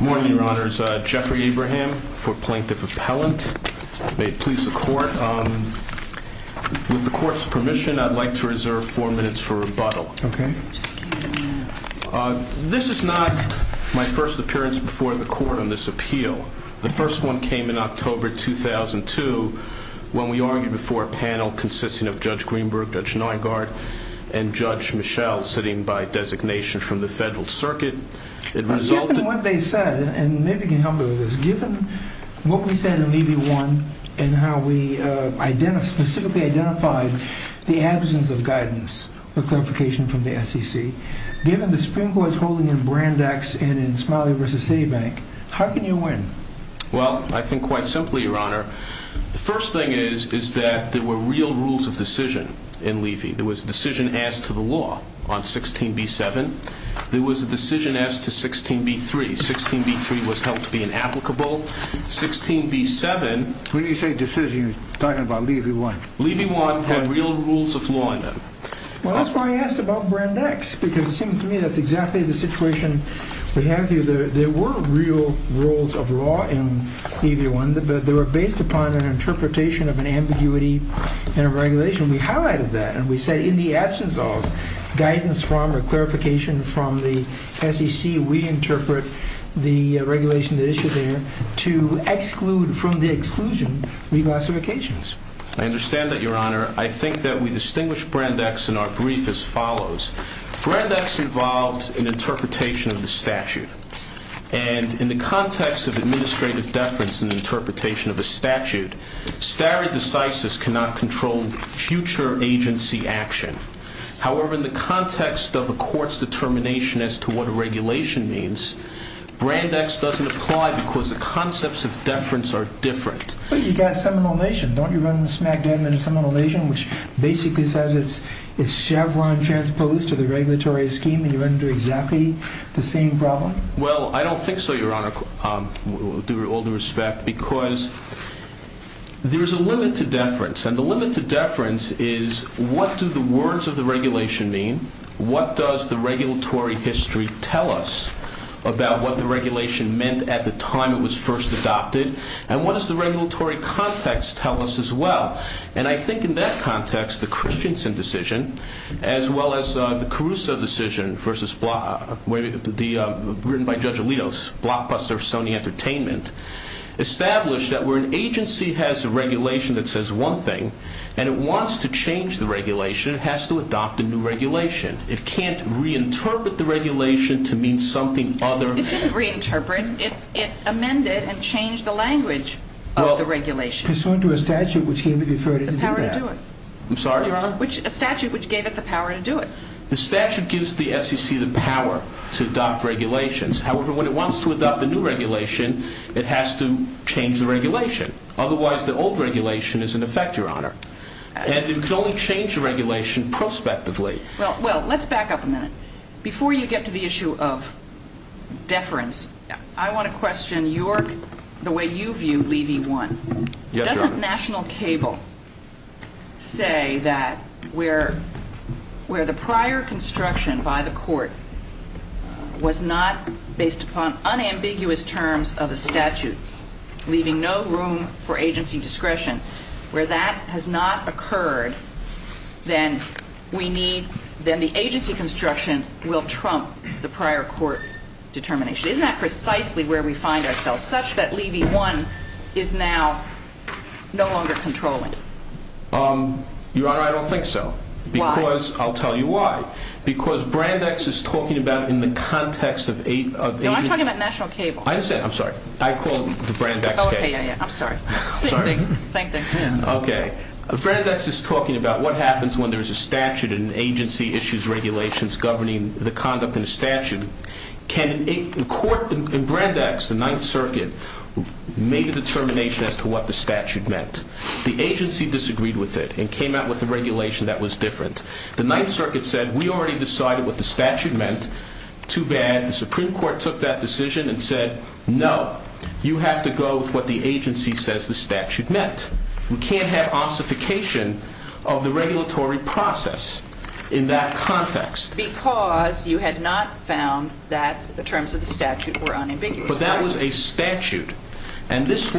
Good morning, Your Honors. Jeffrey Abraham for Plaintiff Appellant. May it please the court that I would like to reserve four minutes for rebuttal. This is not my first appearance before the court on this appeal. The first one came in October 2002 when we argued before a panel consisting of Judge Greenberg, Judge Neuengart, and Judge Michel sitting by designation from the Federal Circuit. Given what they said, and maybe you can help me with this, given what we said in Levy 1 and how we specifically identified the absence of guidance or clarification from the SEC, given the Supreme Court's holding in Brandeis and in Smiley v. Citibank, how can you win? Well, I think quite simply, Your Honor. The first thing is that there were real rules of decision in Levy. There was a decision as to the law on 16b7. There was a decision as to 16b3. 16b3 was held to be inapplicable. 16b7... When do you say decision? You're talking about Levy 1. Levy 1 had real rules of law in them. Well, that's why I asked about Brandeis because it seems to me that's exactly the situation we have here. There were real rules of law in Levy 1, but they were based upon an interpretation of an ambiguity and a regulation. We highlighted that and we said in the absence of guidance from or from the SEC, we interpret the regulation that issued there to exclude from the exclusion reclassifications. I understand that, Your Honor. I think that we distinguish Brandeis in our brief as follows. Brandeis involves an interpretation of the statute. And in the context of administrative deference and interpretation of a statute, stare decisis cannot control future agency action. However, in the context of a court's determination as to what a regulation means, Brandeis doesn't apply because the concepts of deference are different. But you've got Seminole Nation. Don't you run the smackdown in Seminole Nation, which basically says it's Chevron transposed to the regulatory scheme and you run into exactly the same problem? Well, I don't think so, Your Honor, with all due respect, because there's a limit to deference. And the limit to deference is what do the words of the regulation mean? What does the regulatory history tell us about what the regulation meant at the time it was first adopted? And what does the regulatory context tell us as well? And I think in that context, the Christensen decision, as well as the Caruso decision, written by Judge Alitos, blockbuster Sony Entertainment, established that where an agency has a regulation that says one thing and it wants to change the regulation, it has to adopt a new regulation. It can't reinterpret the regulation to mean something other. It didn't reinterpret. It amended and changed the language of the regulation. Well, pursuant to a statute which gave it the power to do that. The power to do it. I'm sorry, Your Honor? A statute which gave it the power to do it. The statute gives the SEC the power to adopt regulations. However, when it wants to adopt a new regulation, it has to change the regulation. Otherwise, the old regulation is in effect, Your Honor. And it can only change the regulation prospectively. Well, let's back up a minute. Before you get to the issue of deference, I want to question your, the way you view Levy 1. Yes, Your Honor. Doesn't National Cable say that where the prior construction by the court was not based upon unambiguous terms of the statute, leaving no room for agency discretion, where that has not occurred, then we need, then the agency construction will trump the prior court determination. Isn't that precisely where we find ourselves? Such that Levy 1 is now no longer controlling. Your Honor, I don't think so. Why? Because, I'll tell you why. Because Brandex is talking about in the context of agency You're talking about National Cable. I said, I'm sorry. I called the Brandex case. Okay, yeah, yeah. I'm sorry. Same thing. Same thing. Okay. Brandex is talking about what happens when there's a statute and an agency issues regulations governing the conduct in a statute. Can a court, in Brandex, the Ninth Circuit, made a determination as to what the statute meant. The agency disagreed with it and came out with a regulation that was different. The Ninth Circuit said, we already decided what the statute meant. Too bad. The Supreme Court took that decision and said, no. You have to go with what the agency says the statute meant. We can't have ossification of the regulatory process in that context. Because you had not found that the terms of the statute were unambiguous. But that was a statute. And this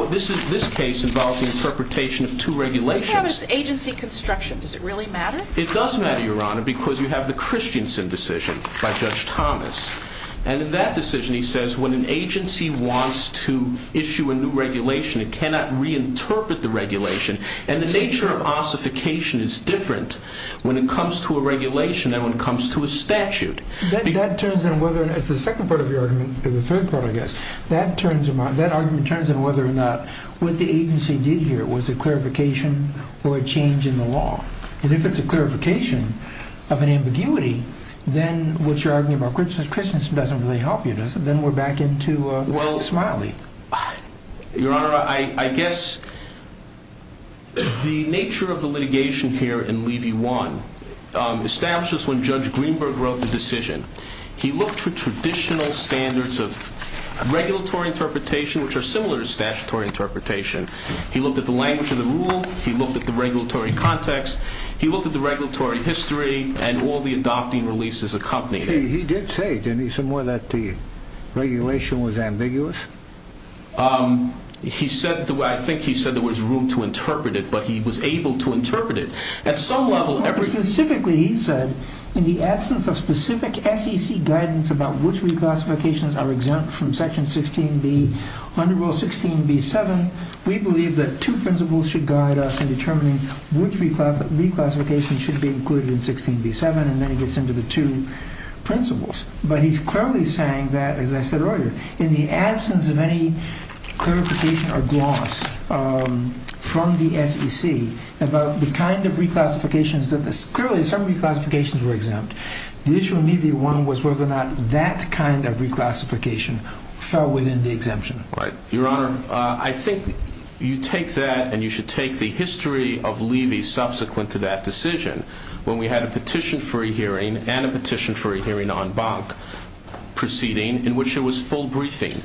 case involves the interpretation of two regulations. What happens to agency construction? Does it really matter? It does matter, Your Honor, because you have the Christiansen decision by Judge Thomas. And in that decision, he says, when an agency wants to issue a new regulation, it cannot reinterpret the regulation. And the nature of ossification is different when it comes to a regulation than when it comes to a statute. That turns in whether, as the second part of your argument, or the third part, I guess, that argument turns in whether or not what the agency did here was a clarification or a change in the law. And if it's a clarification of an ambiguity, then what you're arguing about Christiansen doesn't really help you, does it? Then we're back into the big smiley. Your Honor, I guess the nature of the litigation here in Levy 1 establishes when Judge Greenberg wrote the decision. He looked for traditional standards of regulatory interpretation, which are similar to statutory interpretation. He looked at the language of the rule. He looked at the regulatory context. He looked at the regulatory history and all the adopting releases accompanying it. He did say, didn't he, somewhere, that the regulation was ambiguous? He said, I think he said there was room to interpret it, but he was able to interpret it. At some level, every... Specifically, he said, in the absence of specific SEC guidance about which reclassifications are exempt from Section 16b, under Rule 16b-7, we believe that two principles should guide us in determining which reclassification should be included in 16b-7, and then he gets into the two principles. But he's clearly saying that, as I said earlier, in the absence of any clarification or gloss from the SEC about the kind of reclassifications that... Clearly, some reclassifications were exempt. The issue in Levy 1 was whether or not that kind of reclassification fell within the exemption. Your Honor, I think you take that, and you should take the history of Levy subsequent to that decision, when we had a petition for a hearing, and a petition for a hearing on Bank Proceeding, in which there was full briefing.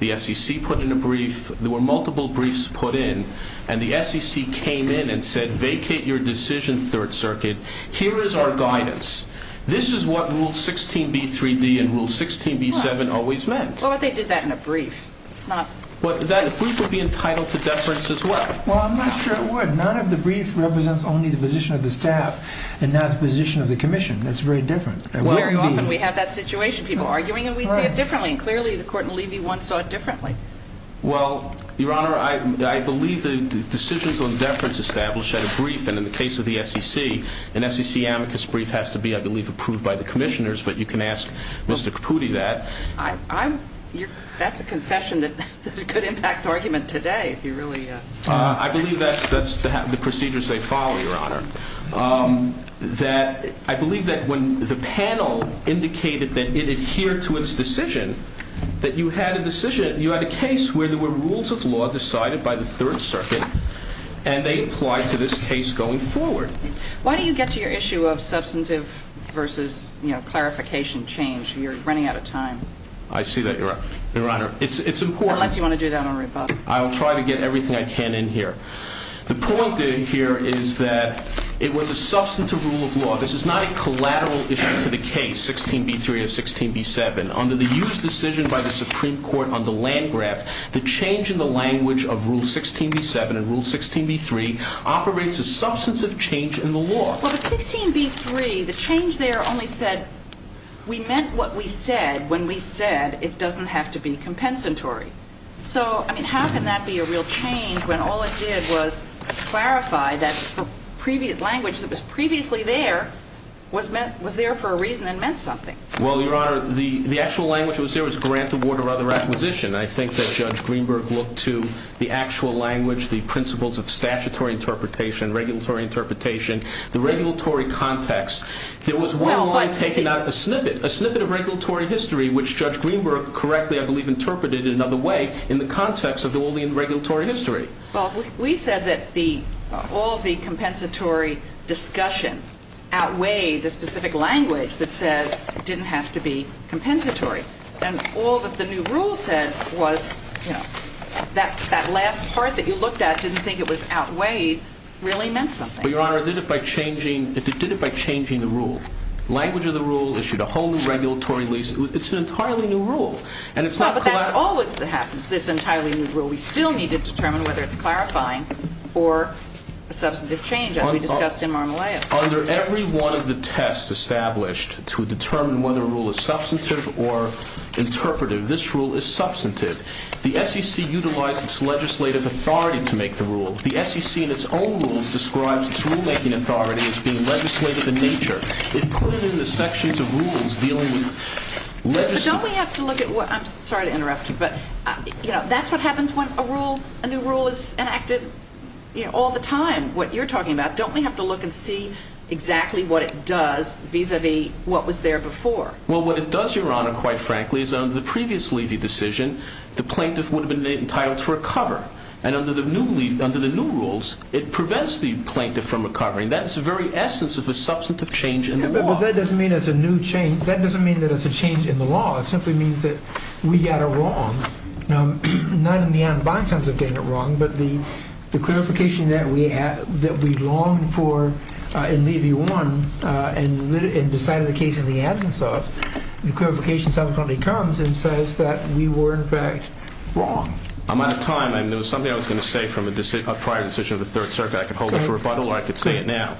The SEC put in a brief. There were multiple briefs put in, and the SEC came in and said, vacate your decision, Third Circuit. Here is our guidance. This is what Rule 16b-3d and Rule 16b-7 always meant. Well, but they did that in a brief. It's not... But that brief would be entitled to deference as well. Well, I'm not sure it would. None of the briefs represents only the position of the staff and not the position of the Commission. That's very different. Very often we have that situation, people arguing, and we see it differently. And clearly, the Court in Levy 1 saw it differently. Well, Your Honor, I believe the decisions on deference established at a brief, and in the case of the SEC, an SEC amicus brief has to be, I believe, approved by the Commissioners, but you can ask Mr. Caputi that. I'm... That's a concession that could impact the argument today, if you really... I believe that's the procedures they follow, Your Honor. I believe that when the panel indicated that it adhered to its decision, that you had a decision, you had a case where there were rules of law decided by the Third Circuit, and they applied to this case going forward. Why don't you get to your issue of substantive versus, you know, clarification change? You're I see that, Your Honor. Your Honor, it's important... Unless you want to do that on rebuttal. I'll try to get everything I can in here. The point in here is that it was a substantive rule of law. This is not a collateral issue to the case, 16b3 or 16b7. Under the used decision by the Supreme Court under Landgraf, the change in the language of Rule 16b7 and Rule 16b3 operates as substantive change in the law. Well, the 16b3, the change there only said, we meant what we said when we said it doesn't have to be compensatory. So, I mean, how can that be a real change when all it did was clarify that the previous language that was previously there was there for a reason and meant something? Well, Your Honor, the actual language that was there was grant, award, or other acquisition. I think that Judge Greenberg looked to the actual language, the principles of statutory interpretation, regulatory interpretation, the regulatory context. There was one line taken out of the snippet, a snippet of regulatory history, which Judge Greenberg correctly, I believe, interpreted in another way in the context of all the regulatory history. Well, we said that all the compensatory discussion outweighed the specific language that says it didn't have to be compensatory. And all that the new rule said was, you know, that last part that you looked at didn't think it was outweighed really meant something. Well, Your Honor, it did it by changing the rule. The language of the rule issued a whole new regulatory lease. It's an entirely new rule, and it's not No, but that's always what happens, this entirely new rule. We still need to determine whether it's clarifying or substantive change, as we discussed in Marmoleos. Under every one of the tests established to determine whether a rule is substantive or to make the rules. The SEC, in its own rules, describes its rulemaking authority as being legislative in nature. It put it in the sections of rules dealing with legislative But don't we have to look at what, I'm sorry to interrupt you, but, you know, that's what happens when a rule, a new rule is enacted, you know, all the time, what you're talking about. Don't we have to look and see exactly what it does vis-a-vis what was there before? Well, what it does, Your Honor, quite frankly, is under the previous Levy decision, the plaintiff would have been entitled to recover. And under the new rules, it prevents the plaintiff from recovering. That's the very essence of the substantive change in the law. But that doesn't mean it's a new change. That doesn't mean that it's a change in the law. It simply means that we got it wrong. Not in the unbiased sense of getting it wrong, but the clarification that we longed for in Levy 1 and decided the case in the absence of, the clarification subsequently comes and says that we were, in fact, wrong. I'm out of time. I mean, there was something I was going to say from a prior decision of the Third Circuit. I could hold it for rebuttal or I could say it now.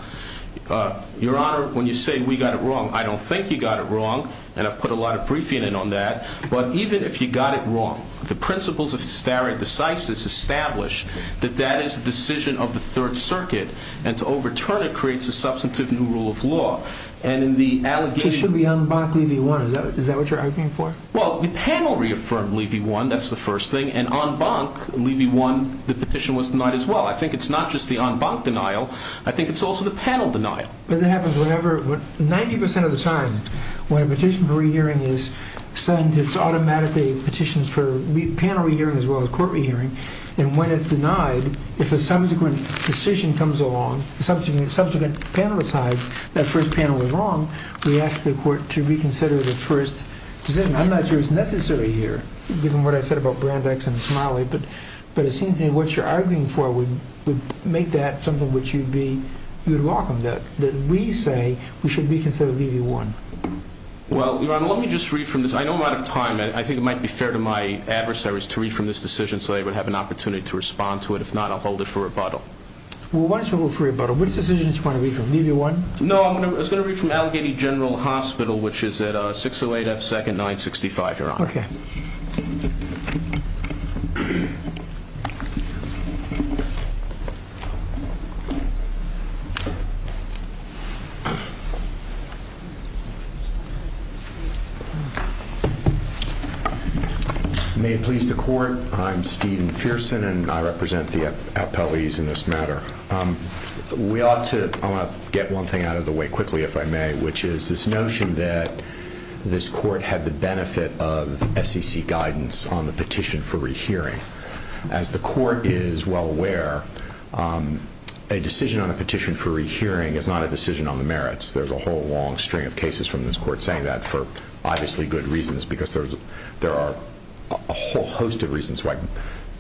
Your Honor, when you say we got it wrong, I don't think you got it wrong. And I've put a lot of briefing in on that. But even if you got it wrong, the principles of stare decisis establish that that is the decision of the Third Circuit. And to overturn it creates a substantive new rule of law. And in the allegation So it should be en banc Levy 1. Is that what you're arguing for? Well, the panel reaffirmed Levy 1. That's the first thing. And en banc Levy 1, the petition was denied as well. I think it's not just the en banc denial. I think it's also the panel denial. But that happens whenever, 90% of the time, when a petition for re-hearing is sent, it's automatically petitions for panel re-hearing as well as court re-hearing. And when it's denied, if a subsequent decision comes along, subsequent panel decides that first panel was wrong, we ask the court to reconsider the first decision. I'm not sure it's necessary here, given what I said about Brand X and Smiley. But it seems to me what you're arguing for would make that something which you'd welcome, that we say we should reconsider Levy 1. Well, Your Honor, let me just read from this. I know I'm out of time. And I think it might be fair to my adversaries to read from this decision so they would have an opportunity to respond to it. If not, I'll hold it for rebuttal. Well, why don't you hold it for rebuttal? What decision do you want to read from? Levy 1? No, I was going to read from Allegheny General Hospital, which is at 608 F. 2nd, 965, Your Honor. Okay. May it please the court, I'm Stephen Fierson, and I represent the appellees in this matter. I want to get one thing out of the way quickly, if I may, which is this notion that this court had the benefit of SEC guidance on the petition for rehearing. As the court is well aware, a decision on a petition for rehearing is not a decision on the merits. There's a whole long string of cases from this court saying that for obviously good reasons, because there are a whole host of reasons why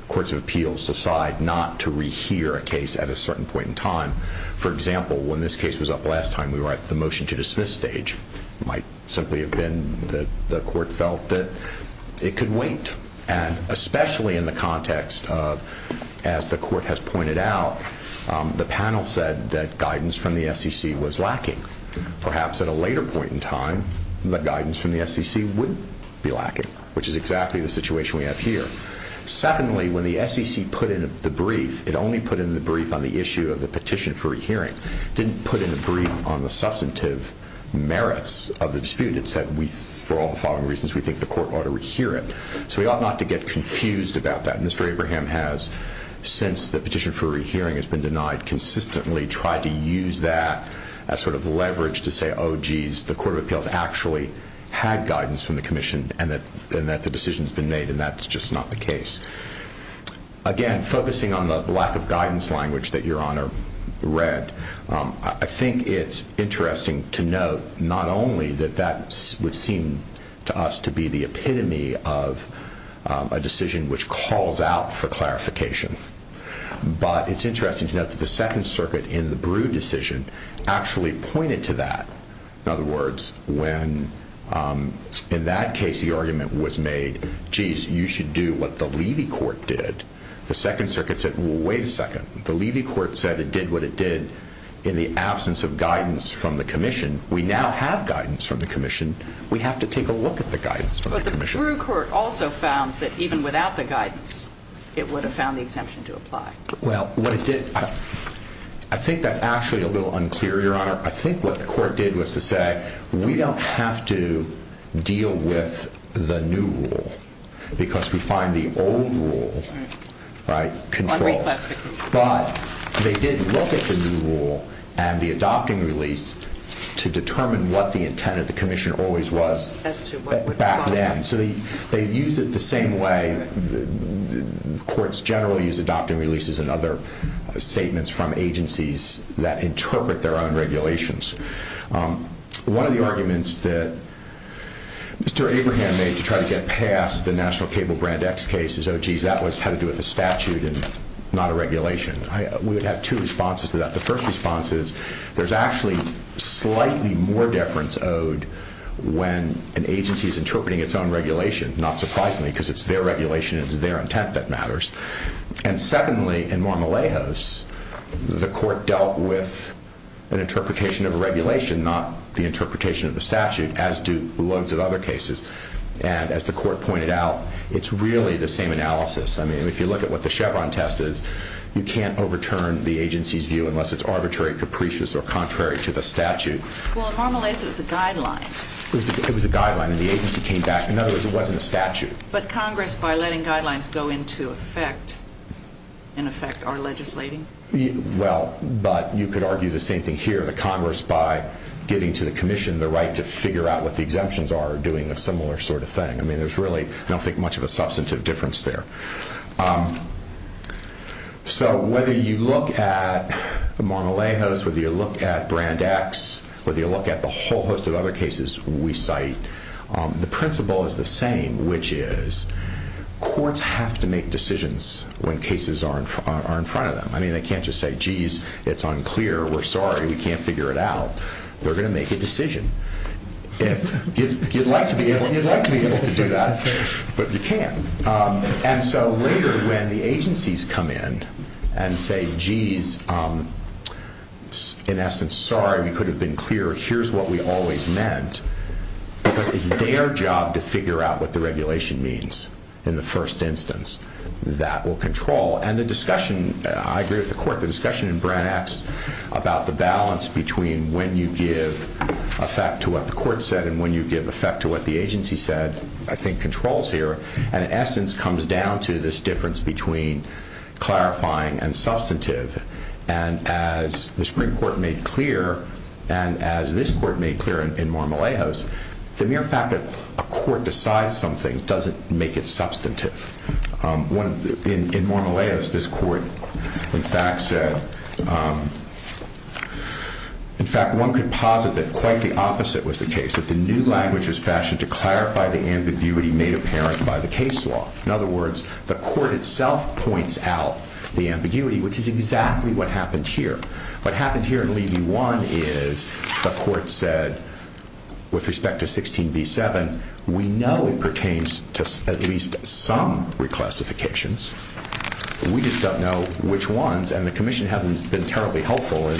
courts of appeals decide not to rehear a case at a certain point in time. For example, when this case was up last time, we were at the motion to dismiss stage. It might simply have been that the court felt that it could wait. And especially in the context of, as the court has pointed out, the panel said that guidance from the SEC was lacking. Perhaps at a later point in time, the guidance from the SEC would be exactly the situation we have here. Secondly, when the SEC put in the brief, it only put in the brief on the issue of the petition for rehearing. It didn't put in the brief on the substantive merits of the dispute. It said, for all the following reasons, we think the court ought to rehear it. So we ought not to get confused about that. Mr. Abraham has, since the petition for rehearing has been denied, consistently tried to use that as sort of leverage to say, oh, jeez, the court of appeals actually had guidance from the commission and that the decision has been made and that's just not the case. Again, focusing on the lack of guidance language that Your Honor read, I think it's interesting to note not only that that would seem to us to be the epitome of a decision which calls out for clarification, but it's interesting to note that the Second Circuit in the Brew decision actually pointed to that. In other words, when in that case the argument was made, jeez, you should do what the Levy Court did, the Second Circuit said, well, wait a second. The Levy Court said it did what it did in the absence of guidance from the commission. We now have guidance from the commission. We have to take a look at the guidance from the commission. But the Brew Court also found that even without Well, what it did, I think that's actually a little unclear, Your Honor. I think what the court did was to say, we don't have to deal with the new rule because we find the old rule, right, controls. But they did look at the new rule and the adopting release to determine what the intent of the commission always was back then. So they used it the same way courts generally use adopting releases and other statements from agencies that interpret their own regulations. One of the arguments that Mr. Abraham made to try to get past the National Cable Brand X case is, oh, jeez, that was had to do with a statute and not a regulation. We would have two responses to that. The first response is there's actually slightly more deference owed when an agency is interpreting its own regulation, not surprisingly because it's their regulation and it's their intent that matters. And secondly, in Mar-a-Lagos, the court dealt with an interpretation of a regulation, not the interpretation of the statute, as do loads of other cases. And as the court pointed out, it's really the same analysis. I mean, if you look at what the Chevron test is, you can't overturn the agency's view unless it's arbitrary, capricious, or contrary to the statute. Well, in Mar-a-Lagos, it was a guideline. It was a guideline and the agency came back. In other words, it wasn't a statute. But Congress, by letting guidelines go into effect, in effect, are legislating? Well, but you could argue the same thing here. The Congress, by giving to the Commission the right to figure out what the exemptions are, are doing a similar sort of thing. I mean, there's really, I don't think, much of a substantive difference there. So whether you look at the Mar-a-Lagos, whether you look at Brand X, whether you look at the whole host of other cases we cite, the principle is the same, which is, courts have to make decisions when cases are in front of them. I mean, they can't just say, geez, it's unclear, we're sorry, we can't figure it out. They're going to make a decision. You'd like to be able to do that, but you can't. And so later, when the agencies come in and say, geez, in the past we've been clear, here's what we always meant, because it's their job to figure out what the regulation means in the first instance. That will control. And the discussion, I agree with the court, the discussion in Brand X about the balance between when you give effect to what the court said and when you give effect to what the agency said, I think, controls here. And in essence, comes down to this difference between clarifying and substantive. And as the Supreme Court made clear, and as this court made clear in Mar-a-Lagos, the mere fact that a court decides something doesn't make it substantive. In Mar-a-Lagos, this court, in fact, said, in fact, one could posit that quite the opposite was the case, that the new language was fashioned to clarify the ambiguity made apparent by the case law. In other words, the court itself points out the ambiguity, which is exactly what happened here. What happened here in Levy 1 is the court said, with respect to 16b7, we know it pertains to at least some reclassifications. We just don't know which ones, and the Commission hasn't been terribly helpful, or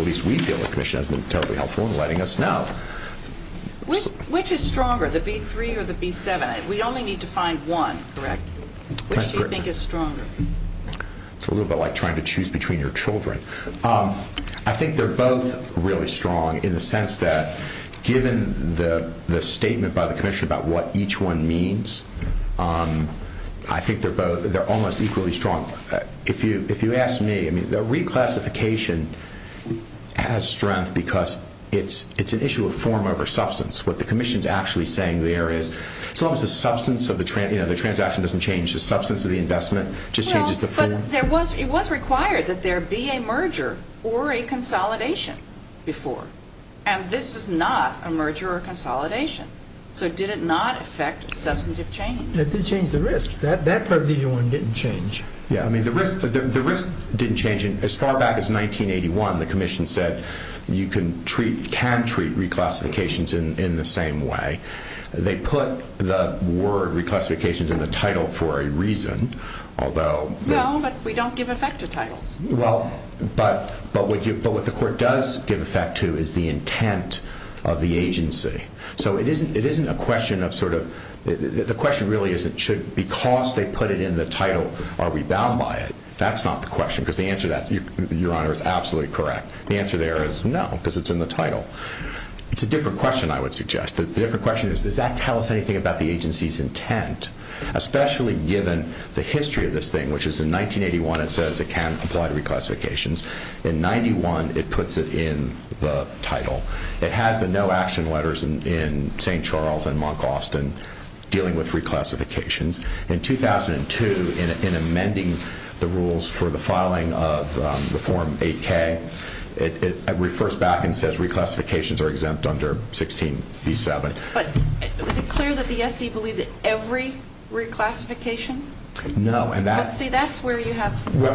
at least we feel the Commission hasn't been terribly helpful in letting us know. Which is stronger, the B3 or the B7? We only need to find one, correct? Which do you think is stronger? It's a little bit like trying to choose between your children. I think they're both really strong in the sense that, given the statement by the Commission about what each one means, I think they're both, they're almost equally strong. If you ask me, I mean, the reclassification has strength because it's an issue of form over substance, what the Commission's actually saying there is, as long as the substance of the transaction doesn't change, the substance of the investment just changes the form. Well, but it was required that there be a merger or a consolidation before, and this is not a merger or a consolidation. So did it not affect substantive change? It did change the risk. That part of Levy 1 didn't change. Yeah, I mean, the risk didn't change. As far back as 1981, the Commission said you can treat, can treat reclassifications in the same way. They put the word reclassifications in the title for a reason, although... No, but we don't give effect to titles. Well, but what the Court does give effect to is the intent of the agency. So it isn't a question of sort of, the question really isn't should, because they put it in the title, are we bound by it? That's not the question, because the answer to that, Your Honor, is absolutely correct. The answer there is no, because it's in the title. It's a different question, I would suggest. The different question is, does that tell us anything about the agency's intent, especially given the history of this thing, which is in 1981, it says it can apply to reclassifications. In 91, it puts it in the title. It has the no action letters in St. Charles and Monk Austin dealing with reclassifications. In 2002, in amending the rules for the filing of the Form 8K, it refers back and says reclassifications are exempt under 16b-7. But is it clear that the SE believed that every reclassification... No, and that... See, that's where you have the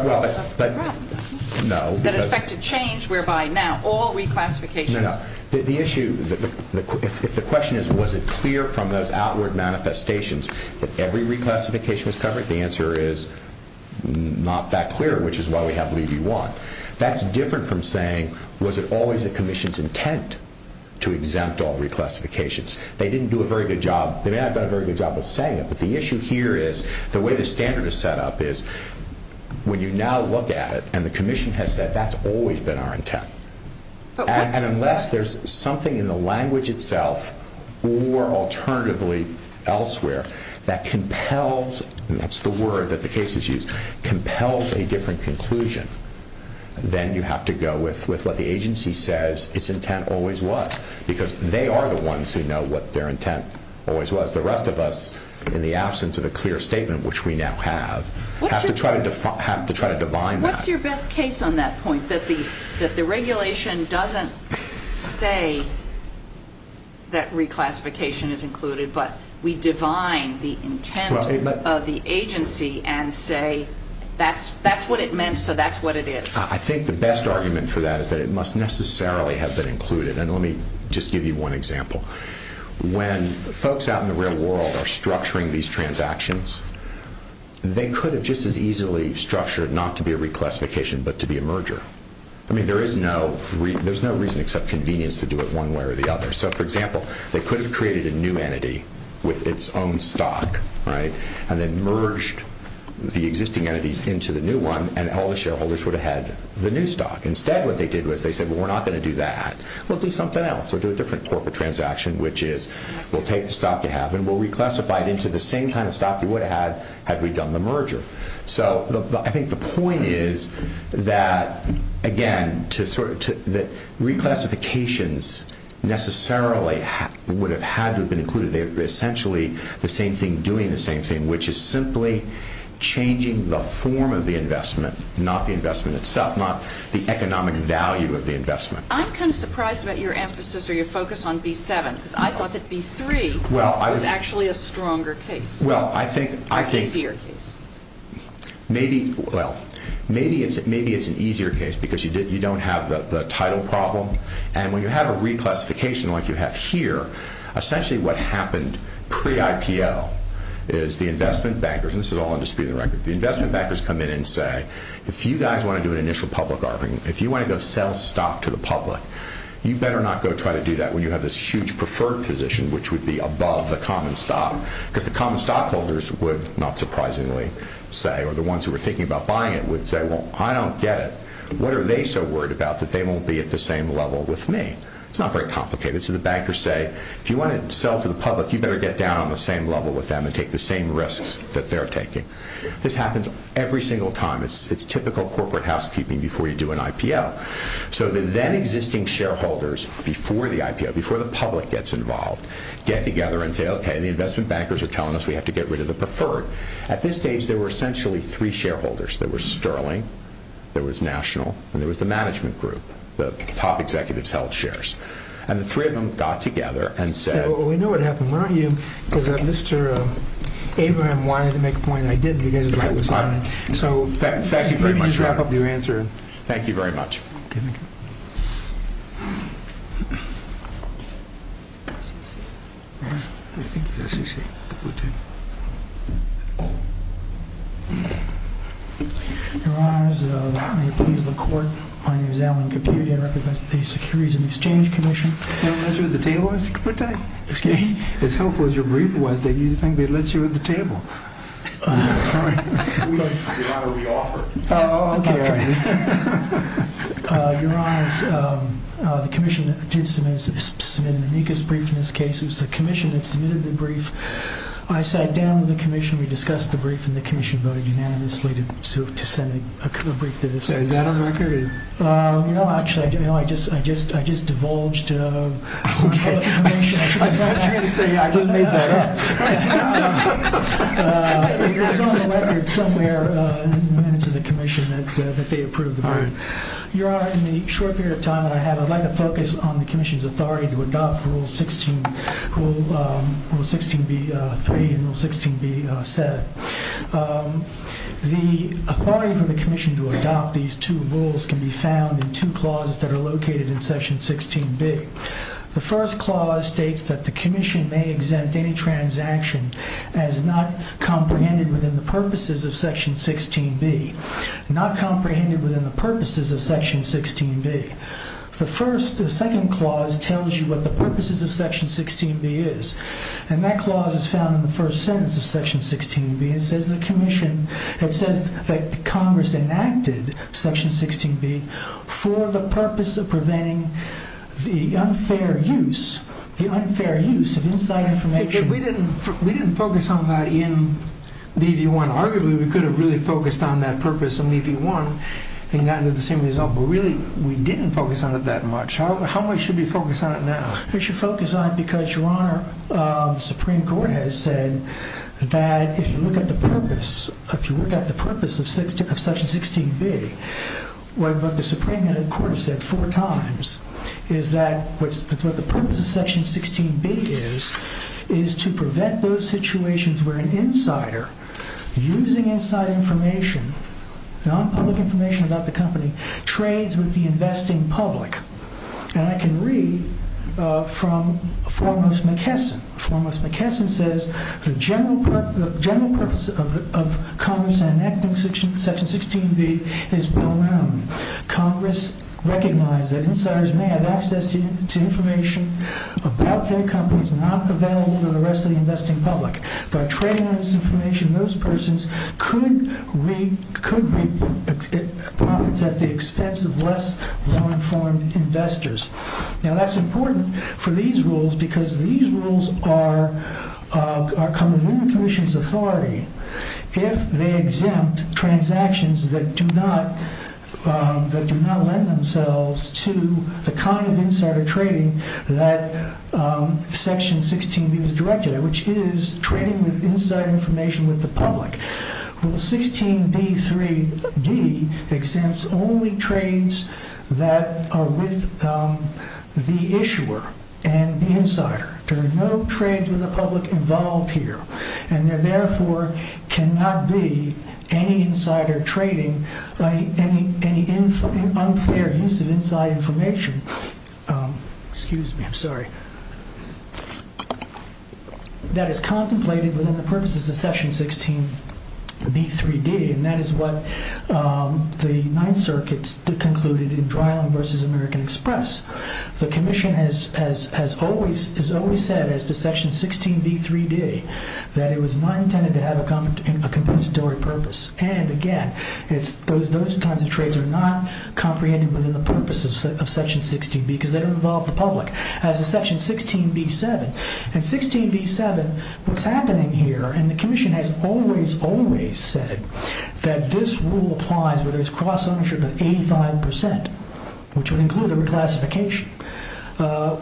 problem, that it affected change, whereby now all reclassifications... The issue, if the question is, was it clear from those outward manifestations that every reclassification was covered, the answer is, not that clear, which is why we have leave you want. That's different from saying, was it always the Commission's intent to exempt all reclassifications? They didn't do a very good job, they may not have done a very good job of saying it, but the issue here is, the way the standard is set up is, when you now look at it, and the Commission has said, that's always been our intent. And unless there's something in the language itself, or alternatively elsewhere, that compels, and that's the word that the cases use, compels a different conclusion, then you have to go with what the agency says its intent always was, because they are the ones who know what their intent always was. The rest of us, in the absence of a clear statement, which we now have, have to try to define that. What's your best case on that point, that the regulation doesn't say that reclassification is included, but we define the intent of the agency and say, that's what it meant, so that's what it is? I think the best argument for that is that it must necessarily have been included. And let me just give you one example. When folks out in the real world are structuring these cases, they're structuring them to be a merger. I mean, there's no reason except convenience to do it one way or the other. So, for example, they could have created a new entity with its own stock, and then merged the existing entities into the new one, and all the shareholders would have had the new stock. Instead, what they did was, they said, well, we're not going to do that. We'll do something else. We'll do a different corporate transaction, which is, we'll take the stock you have, and we'll reclassify it into the same kind of stock you would have had, had we done the merger. So, I think the point is that, again, reclassifications necessarily would have had to have been included. They're essentially the same thing doing the same thing, which is simply changing the form of the investment, not the investment itself, not the economic value of the investment. I'm kind of surprised about your emphasis or your focus on B7, because I thought that B3 was actually a stronger case. Well, I think, well, maybe it's an easier case, because you don't have the title problem, and when you have a reclassification like you have here, essentially what happened pre-IPO is the investment bankers, and this is all in dispute of the record, the investment bankers come in and say, if you guys want to do an initial public offering, if you want to go sell stock to the public, you better not go try to do that when you have this huge preferred position, which would be above the common stock, because the common stockholders would, not surprisingly, say, or the ones who were thinking about buying it would say, well, I don't get it. What are they so worried about that they won't be at the same level with me? It's not very complicated. So, the bankers say, if you want to sell to the public, you better get down on the same level with them and take the same risks that they're taking. This happens every single time. It's typical corporate housekeeping before you do an IPO. So, the then existing shareholders, before the IPO, before the public gets involved, get together and say, okay, the investment bankers are telling us we have to get rid of the preferred. At this stage, there were essentially three shareholders. There was Sterling, there was National, and there was the management group, the top executives held shares. And the three of them got together and said- We know what happened. Why don't you, because Mr. Abraham wanted to make a point and I did because his light was on. So, maybe you should wrap up your answer. Thank you very much. Your Honors, may it please the Court, my name is Alan Caput. I represent the Securities and Exchange Commission. You want to let's you at the table, Mr. Caput? Excuse me? As helpful as your brief was, did you think they'd let you at the table? We ought to re-offer. Oh, okay. Your Honors, the Commission did submit an amicus brief in this case. It was the Commission that submitted the brief. I sat down with the Commission, we discussed the brief, and the Commission voted unanimously to send a brief to the Senate. Is that on record? No, actually, I just divulged our information. I thought you were going to say, I just made that up. It's on the record somewhere in the minutes of the Commission that they approved the brief. Your Honor, in the short period of time that I have, I'd like to focus on the Commission's authority to adopt Rule 16b-3 and Rule 16b-7. The authority for the Commission to adopt these two rules can be found in two clauses that are located in Section 16b. The first clause states that the Commission may exempt any transaction as not comprehended within the purposes of Section 16b. Not comprehended within the purposes of Section 16b. The second clause tells you what the purposes of Section 16b is, and that clause is found in the first sentence of Section 16b. It says the Commission, it says that Congress enacted Section 16b for the purpose of preventing the unfair use, the unfair use of inside information. We didn't focus on that in AB1. Arguably, we could have really focused on that purpose in AB1 and gotten the same result, but really, we didn't focus on it that much. How much should we focus on it now? We should focus on it because, Your Honor, the Supreme Court has said that if you look at the purpose, if you look at the purpose of Section 16b, what the Supreme Court has said four times is that what the purpose of Section 16b is, is to prevent those situations where an insider, using inside information, non-public information about the company, trades with the investing public. And I can read from Formos McKesson. Formos McKesson says the general purpose of Congress enacting Section 16b is well known. Congress recognized that insiders may have access to information about their companies not available to the rest of the investing public. By trading on this information, those persons could reap profits at the expense of less well-informed investors. Now that's important for these rules because these rules are coming in the Commission's authority if they exempt transactions that do not lend themselves to the kind of insider trading that Section 16b was directed at, which is trading with inside information with the public. Rule 16b3d exempts only trades that are with the issuer and the insider. There are no trades with the public involved here. And there therefore cannot be any insider trading, any unfair use of inside information that is contemplated within the purposes of Section 16b3d. And that is what the Ninth Circuit concluded in Dryland v. American Express. The Commission has always said, as to Section 16b3d, that it was not intended to have a compensatory purpose. And again, those kinds of trades are not comprehended within the purpose of Section 16b because they don't involve the public. As to Section 16b7, what's happening here, and the Commission has always, always said that this rule applies where there's cross-ownership of 85%, which would include a reclassification.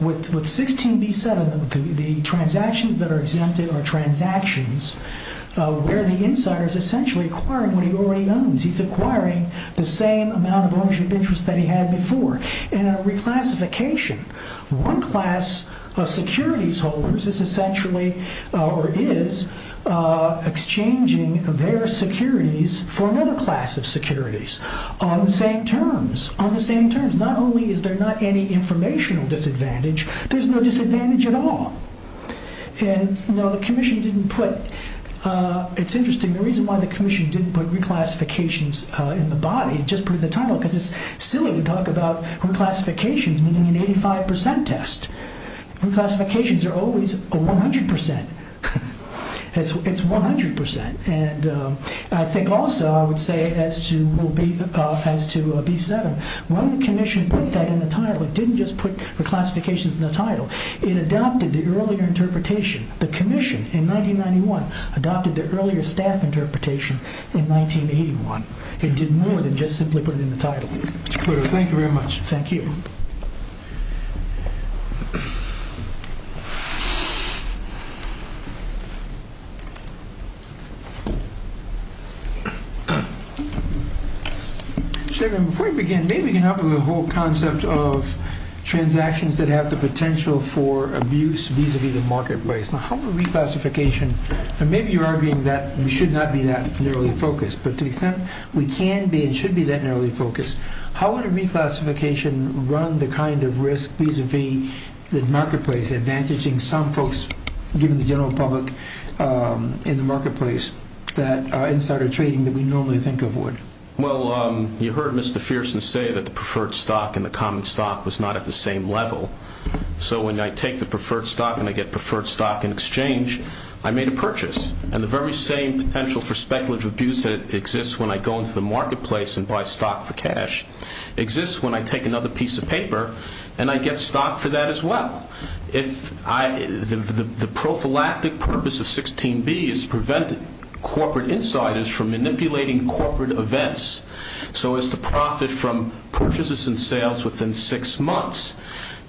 With 16b7, the transactions that are exempted are transactions where the insiders essentially are acquiring what he already owns. He's acquiring the same amount of ownership interest that he had before. In a reclassification, one class of securities holders is essentially, or is, exchanging their securities for another class of securities on the same terms. On the same terms. Not only is there not any informational disadvantage, there's no disadvantage at all. Now, the Commission didn't put, it's interesting, the reason why the Commission didn't put reclassifications in the body, just put it in the title, because it's silly to talk about reclassifications meaning an 85% test. Reclassifications are always 100%. It's 100%. I think also, I would say, as to b7, when the Commission put that in the title, it didn't just put reclassifications in the title. It adopted the earlier interpretation. The Commission, in 1991, adopted the earlier staff interpretation in 1981. It did more than just simply put it in the title. Thank you very much. Thank you. Chairman, before we begin, maybe we can help with the whole concept of transactions that have the potential for abuse vis-a-vis the marketplace. Now, how would reclassification, and maybe you're arguing that we should not be that narrowly focused, but to the extent we can be and should be that narrowly focused, how would reclassification run the kind of risk vis-a-vis the marketplace, advantaging some folks, given the general public in the marketplace, that are insider trading that we normally think of would? Well, you heard Mr. Fearson say that the preferred stock and the common stock was not at the same level. So, when I take the preferred stock and I get preferred stock in exchange, I made a purchase. And the very same potential for speculative abuse exists when I go into the marketplace and buy stock for cash. It exists when I take another piece of paper and I get stock for that as well. The prophylactic purpose of 16B is to prevent corporate insiders from manipulating corporate events so as to profit from purchases and sales within six months.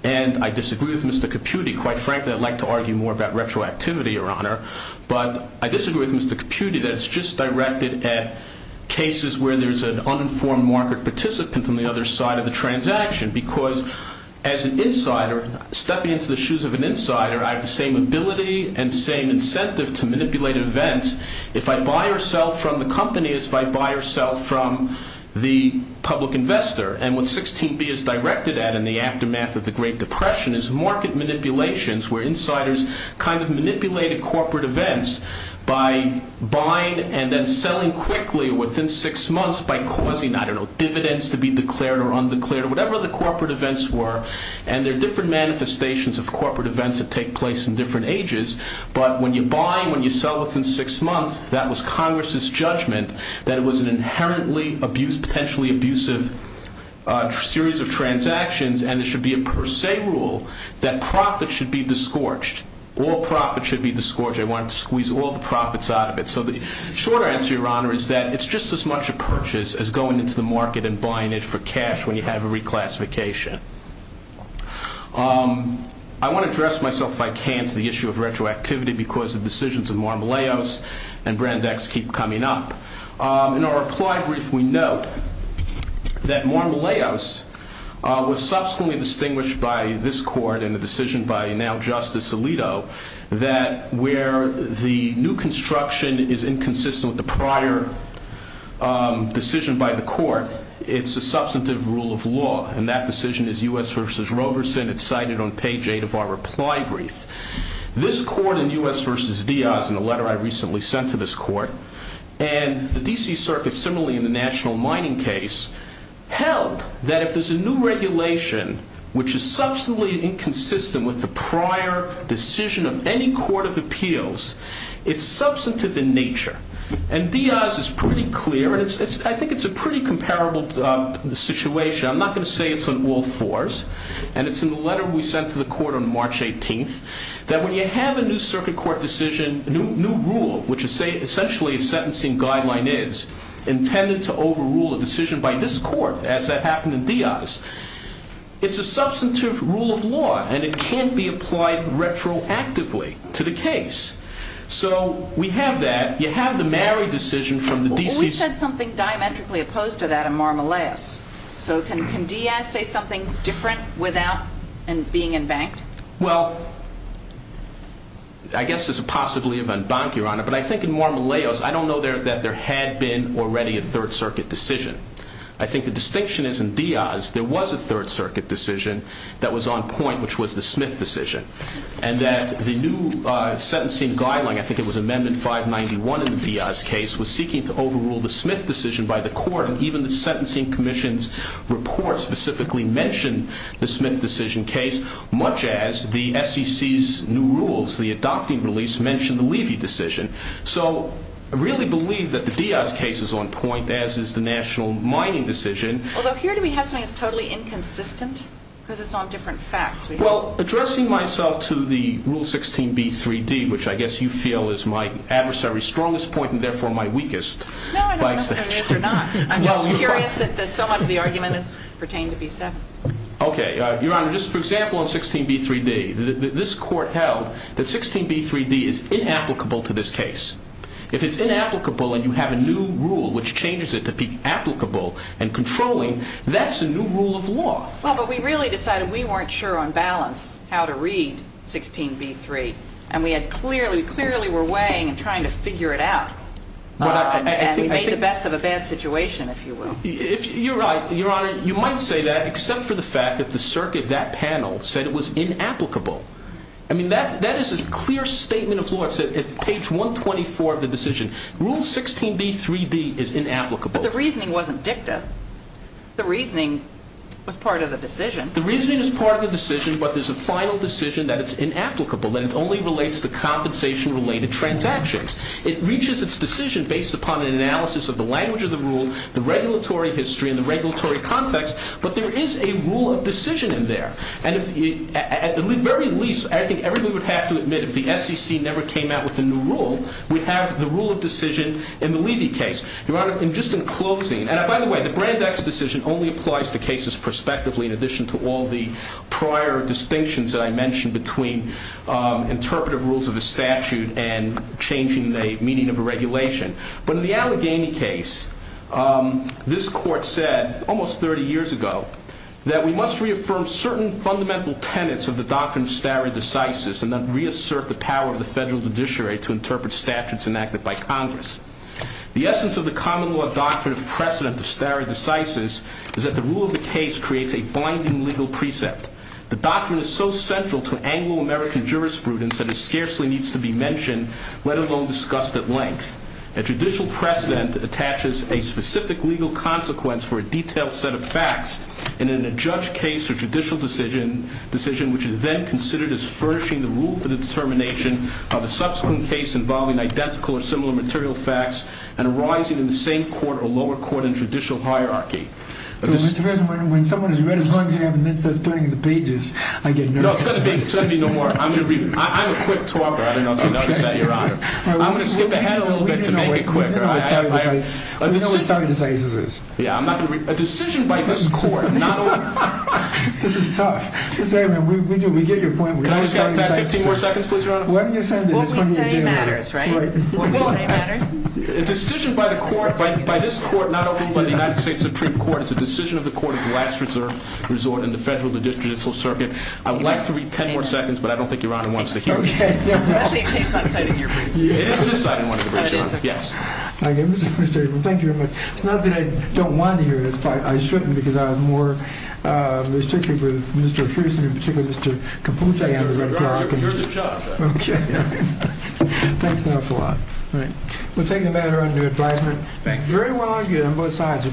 And I disagree with Mr. Caputti. Quite frankly, I'd like to argue more about retroactivity, Your Honor. But I disagree with Mr. Caputti that it's just directed at cases where there's an uninformed market participant on the other side of the transaction. Because, as an insider, stepping into the shoes of an insider, I have the same ability and same incentive to manipulate events if I buy or sell from the company as if I buy or sell from the public investor. And what 16B is directed at in the aftermath of the Great Depression is market manipulations where insiders kind of manipulated corporate events by buying and then selling quickly or within six months by causing, I don't know, dividends to be declared or undeclared or whatever the corporate events were. And there are different manifestations of corporate events that take place in different ages. But when you're buying, when you sell within six months, that was Congress's judgment that it was an inherently abused, potentially abusive series of transactions and there should be a per se rule that profits should be disgorged. All profits should be disgorged. They wanted to squeeze all the profits out of it. So the short answer, Your Honor, is that it's just as much a purchase as going into the market and buying it for cash when you have a reclassification. I want to address myself, if I can, to the issue of retroactivity because the decisions of Marmelaos and Brandex keep coming up. In our reply brief, we note that Marmelaos was subsequently distinguished by this court and the decision by now Justice Alito that where the new construction is inconsistent with the prior decision by the court, it's a substantive rule of law. And that decision is U.S. v. Roberson. It's cited on page eight of our reply brief. This court in U.S. v. Diaz in a letter I recently sent to this court and the D.C. Circuit similarly in the national mining case held that if there's a new regulation which is substantively inconsistent with the prior decision of any court of appeals, it's substantive in nature. And Diaz is pretty clear. I think it's a pretty comparable situation. I'm not going to say it's on all fours. And it's in the letter we sent to the court on March 18 that when you have a new circuit court decision, a new rule, which essentially a sentencing guideline is, intended to overrule a decision by this court, as that happened in Diaz, it's a substantive rule of law. And it can't be applied retroactively to the case. So we have that. You have the Mary decision from the D.C. Well, we said something diametrically opposed to that in Marmelaos. So can Diaz say something different without being embanked? But I think in Marmelaos, I don't know that there had been already a third circuit decision. I think the distinction is in Diaz, there was a third circuit decision that was on point, which was the Smith decision. And that the new sentencing guideline, I think it was Amendment 591 in the Diaz case, was seeking to overrule the Smith decision by the court. And even the Sentencing Commission's report specifically mentioned the Smith decision case, much as the SEC's new rules, the adopting release, as mentioned, the Levy decision. So I really believe that the Diaz case is on point, as is the National Mining decision. Although, here do we have something that's totally inconsistent? Because it's on different facts. Well, addressing myself to the Rule 16b3d, which I guess you feel is my adversary's strongest point, and therefore my weakest. No, I don't know whether it is or not. I'm just curious that so much of the argument pertains to b7. Okay. Your Honor, just for example, on 16b3d, this court held that 16b3d is inapplicable to this case. If it's inapplicable and you have a new rule, which changes it to be applicable and controlling, that's a new rule of law. Well, but we really decided we weren't sure on balance how to read 16b3. And we clearly were weighing and trying to figure it out. And we made the best of a bad situation, if you will. You're right, Your Honor. You might say that, except for the fact that the circuit, that panel, said it was inapplicable. I mean, that is a clear statement of law. It's at page 124 of the decision. Rule 16b3d is inapplicable. But the reasoning wasn't dicta. The reasoning was part of the decision. The reasoning is part of the decision, but there's a final decision that it's inapplicable, that it only relates to compensation-related transactions. It reaches its decision based upon an analysis of the language of the rule, the regulatory history, and the regulatory context. But there is a rule of decision in there. And at the very least, I think everybody would have to admit, if the SEC never came out with a new rule, we have the rule of decision in the Levy case. Your Honor, just in closing, and by the way, the Brandeis decision only applies to cases prospectively, in addition to all the prior distinctions that I mentioned between interpretive rules of the statute and changing the meaning of a regulation. But in the Allegheny case, this Court said almost 30 years ago that we must reaffirm certain fundamental tenets of the doctrine of stare decisis and then reassert the power of the federal judiciary to interpret statutes enacted by Congress. The essence of the common law doctrine of precedent of stare decisis is that the rule of the case creates a binding legal precept. The doctrine is so central to Anglo-American jurisprudence that it scarcely needs to be mentioned, let alone discussed at length. A judicial precedent attaches a specific legal consequence for a detailed set of facts in an adjudged case or judicial decision, which is then considered as furnishing the rule for the determination of a subsequent case involving identical or similar material facts and arising in the same court or lower court in judicial hierarchy. When someone has read as long as you have and then starts turning the pages, I get nervous. No, it's going to be no more. I'm a quick talker. I'm going to skip ahead a little bit to make it quicker. A decision by this Court... This is tough. We get your point. What we say matters, right? A decision by this Court, not only by the United States Supreme Court, it's a decision of the Court of the last resort in the Federal Judicial Circuit. I would like to read 10 more seconds, but I don't think Your Honor wants to hear it. Thank you very much. It's not that I don't want to hear it, it's that I shouldn't, because I'm more restricted with Mr. Houston and Mr. Caputa. Thank you, Your Honor. Thanks an awful lot. We'll take the matter under advisement. Very well argued on both sides.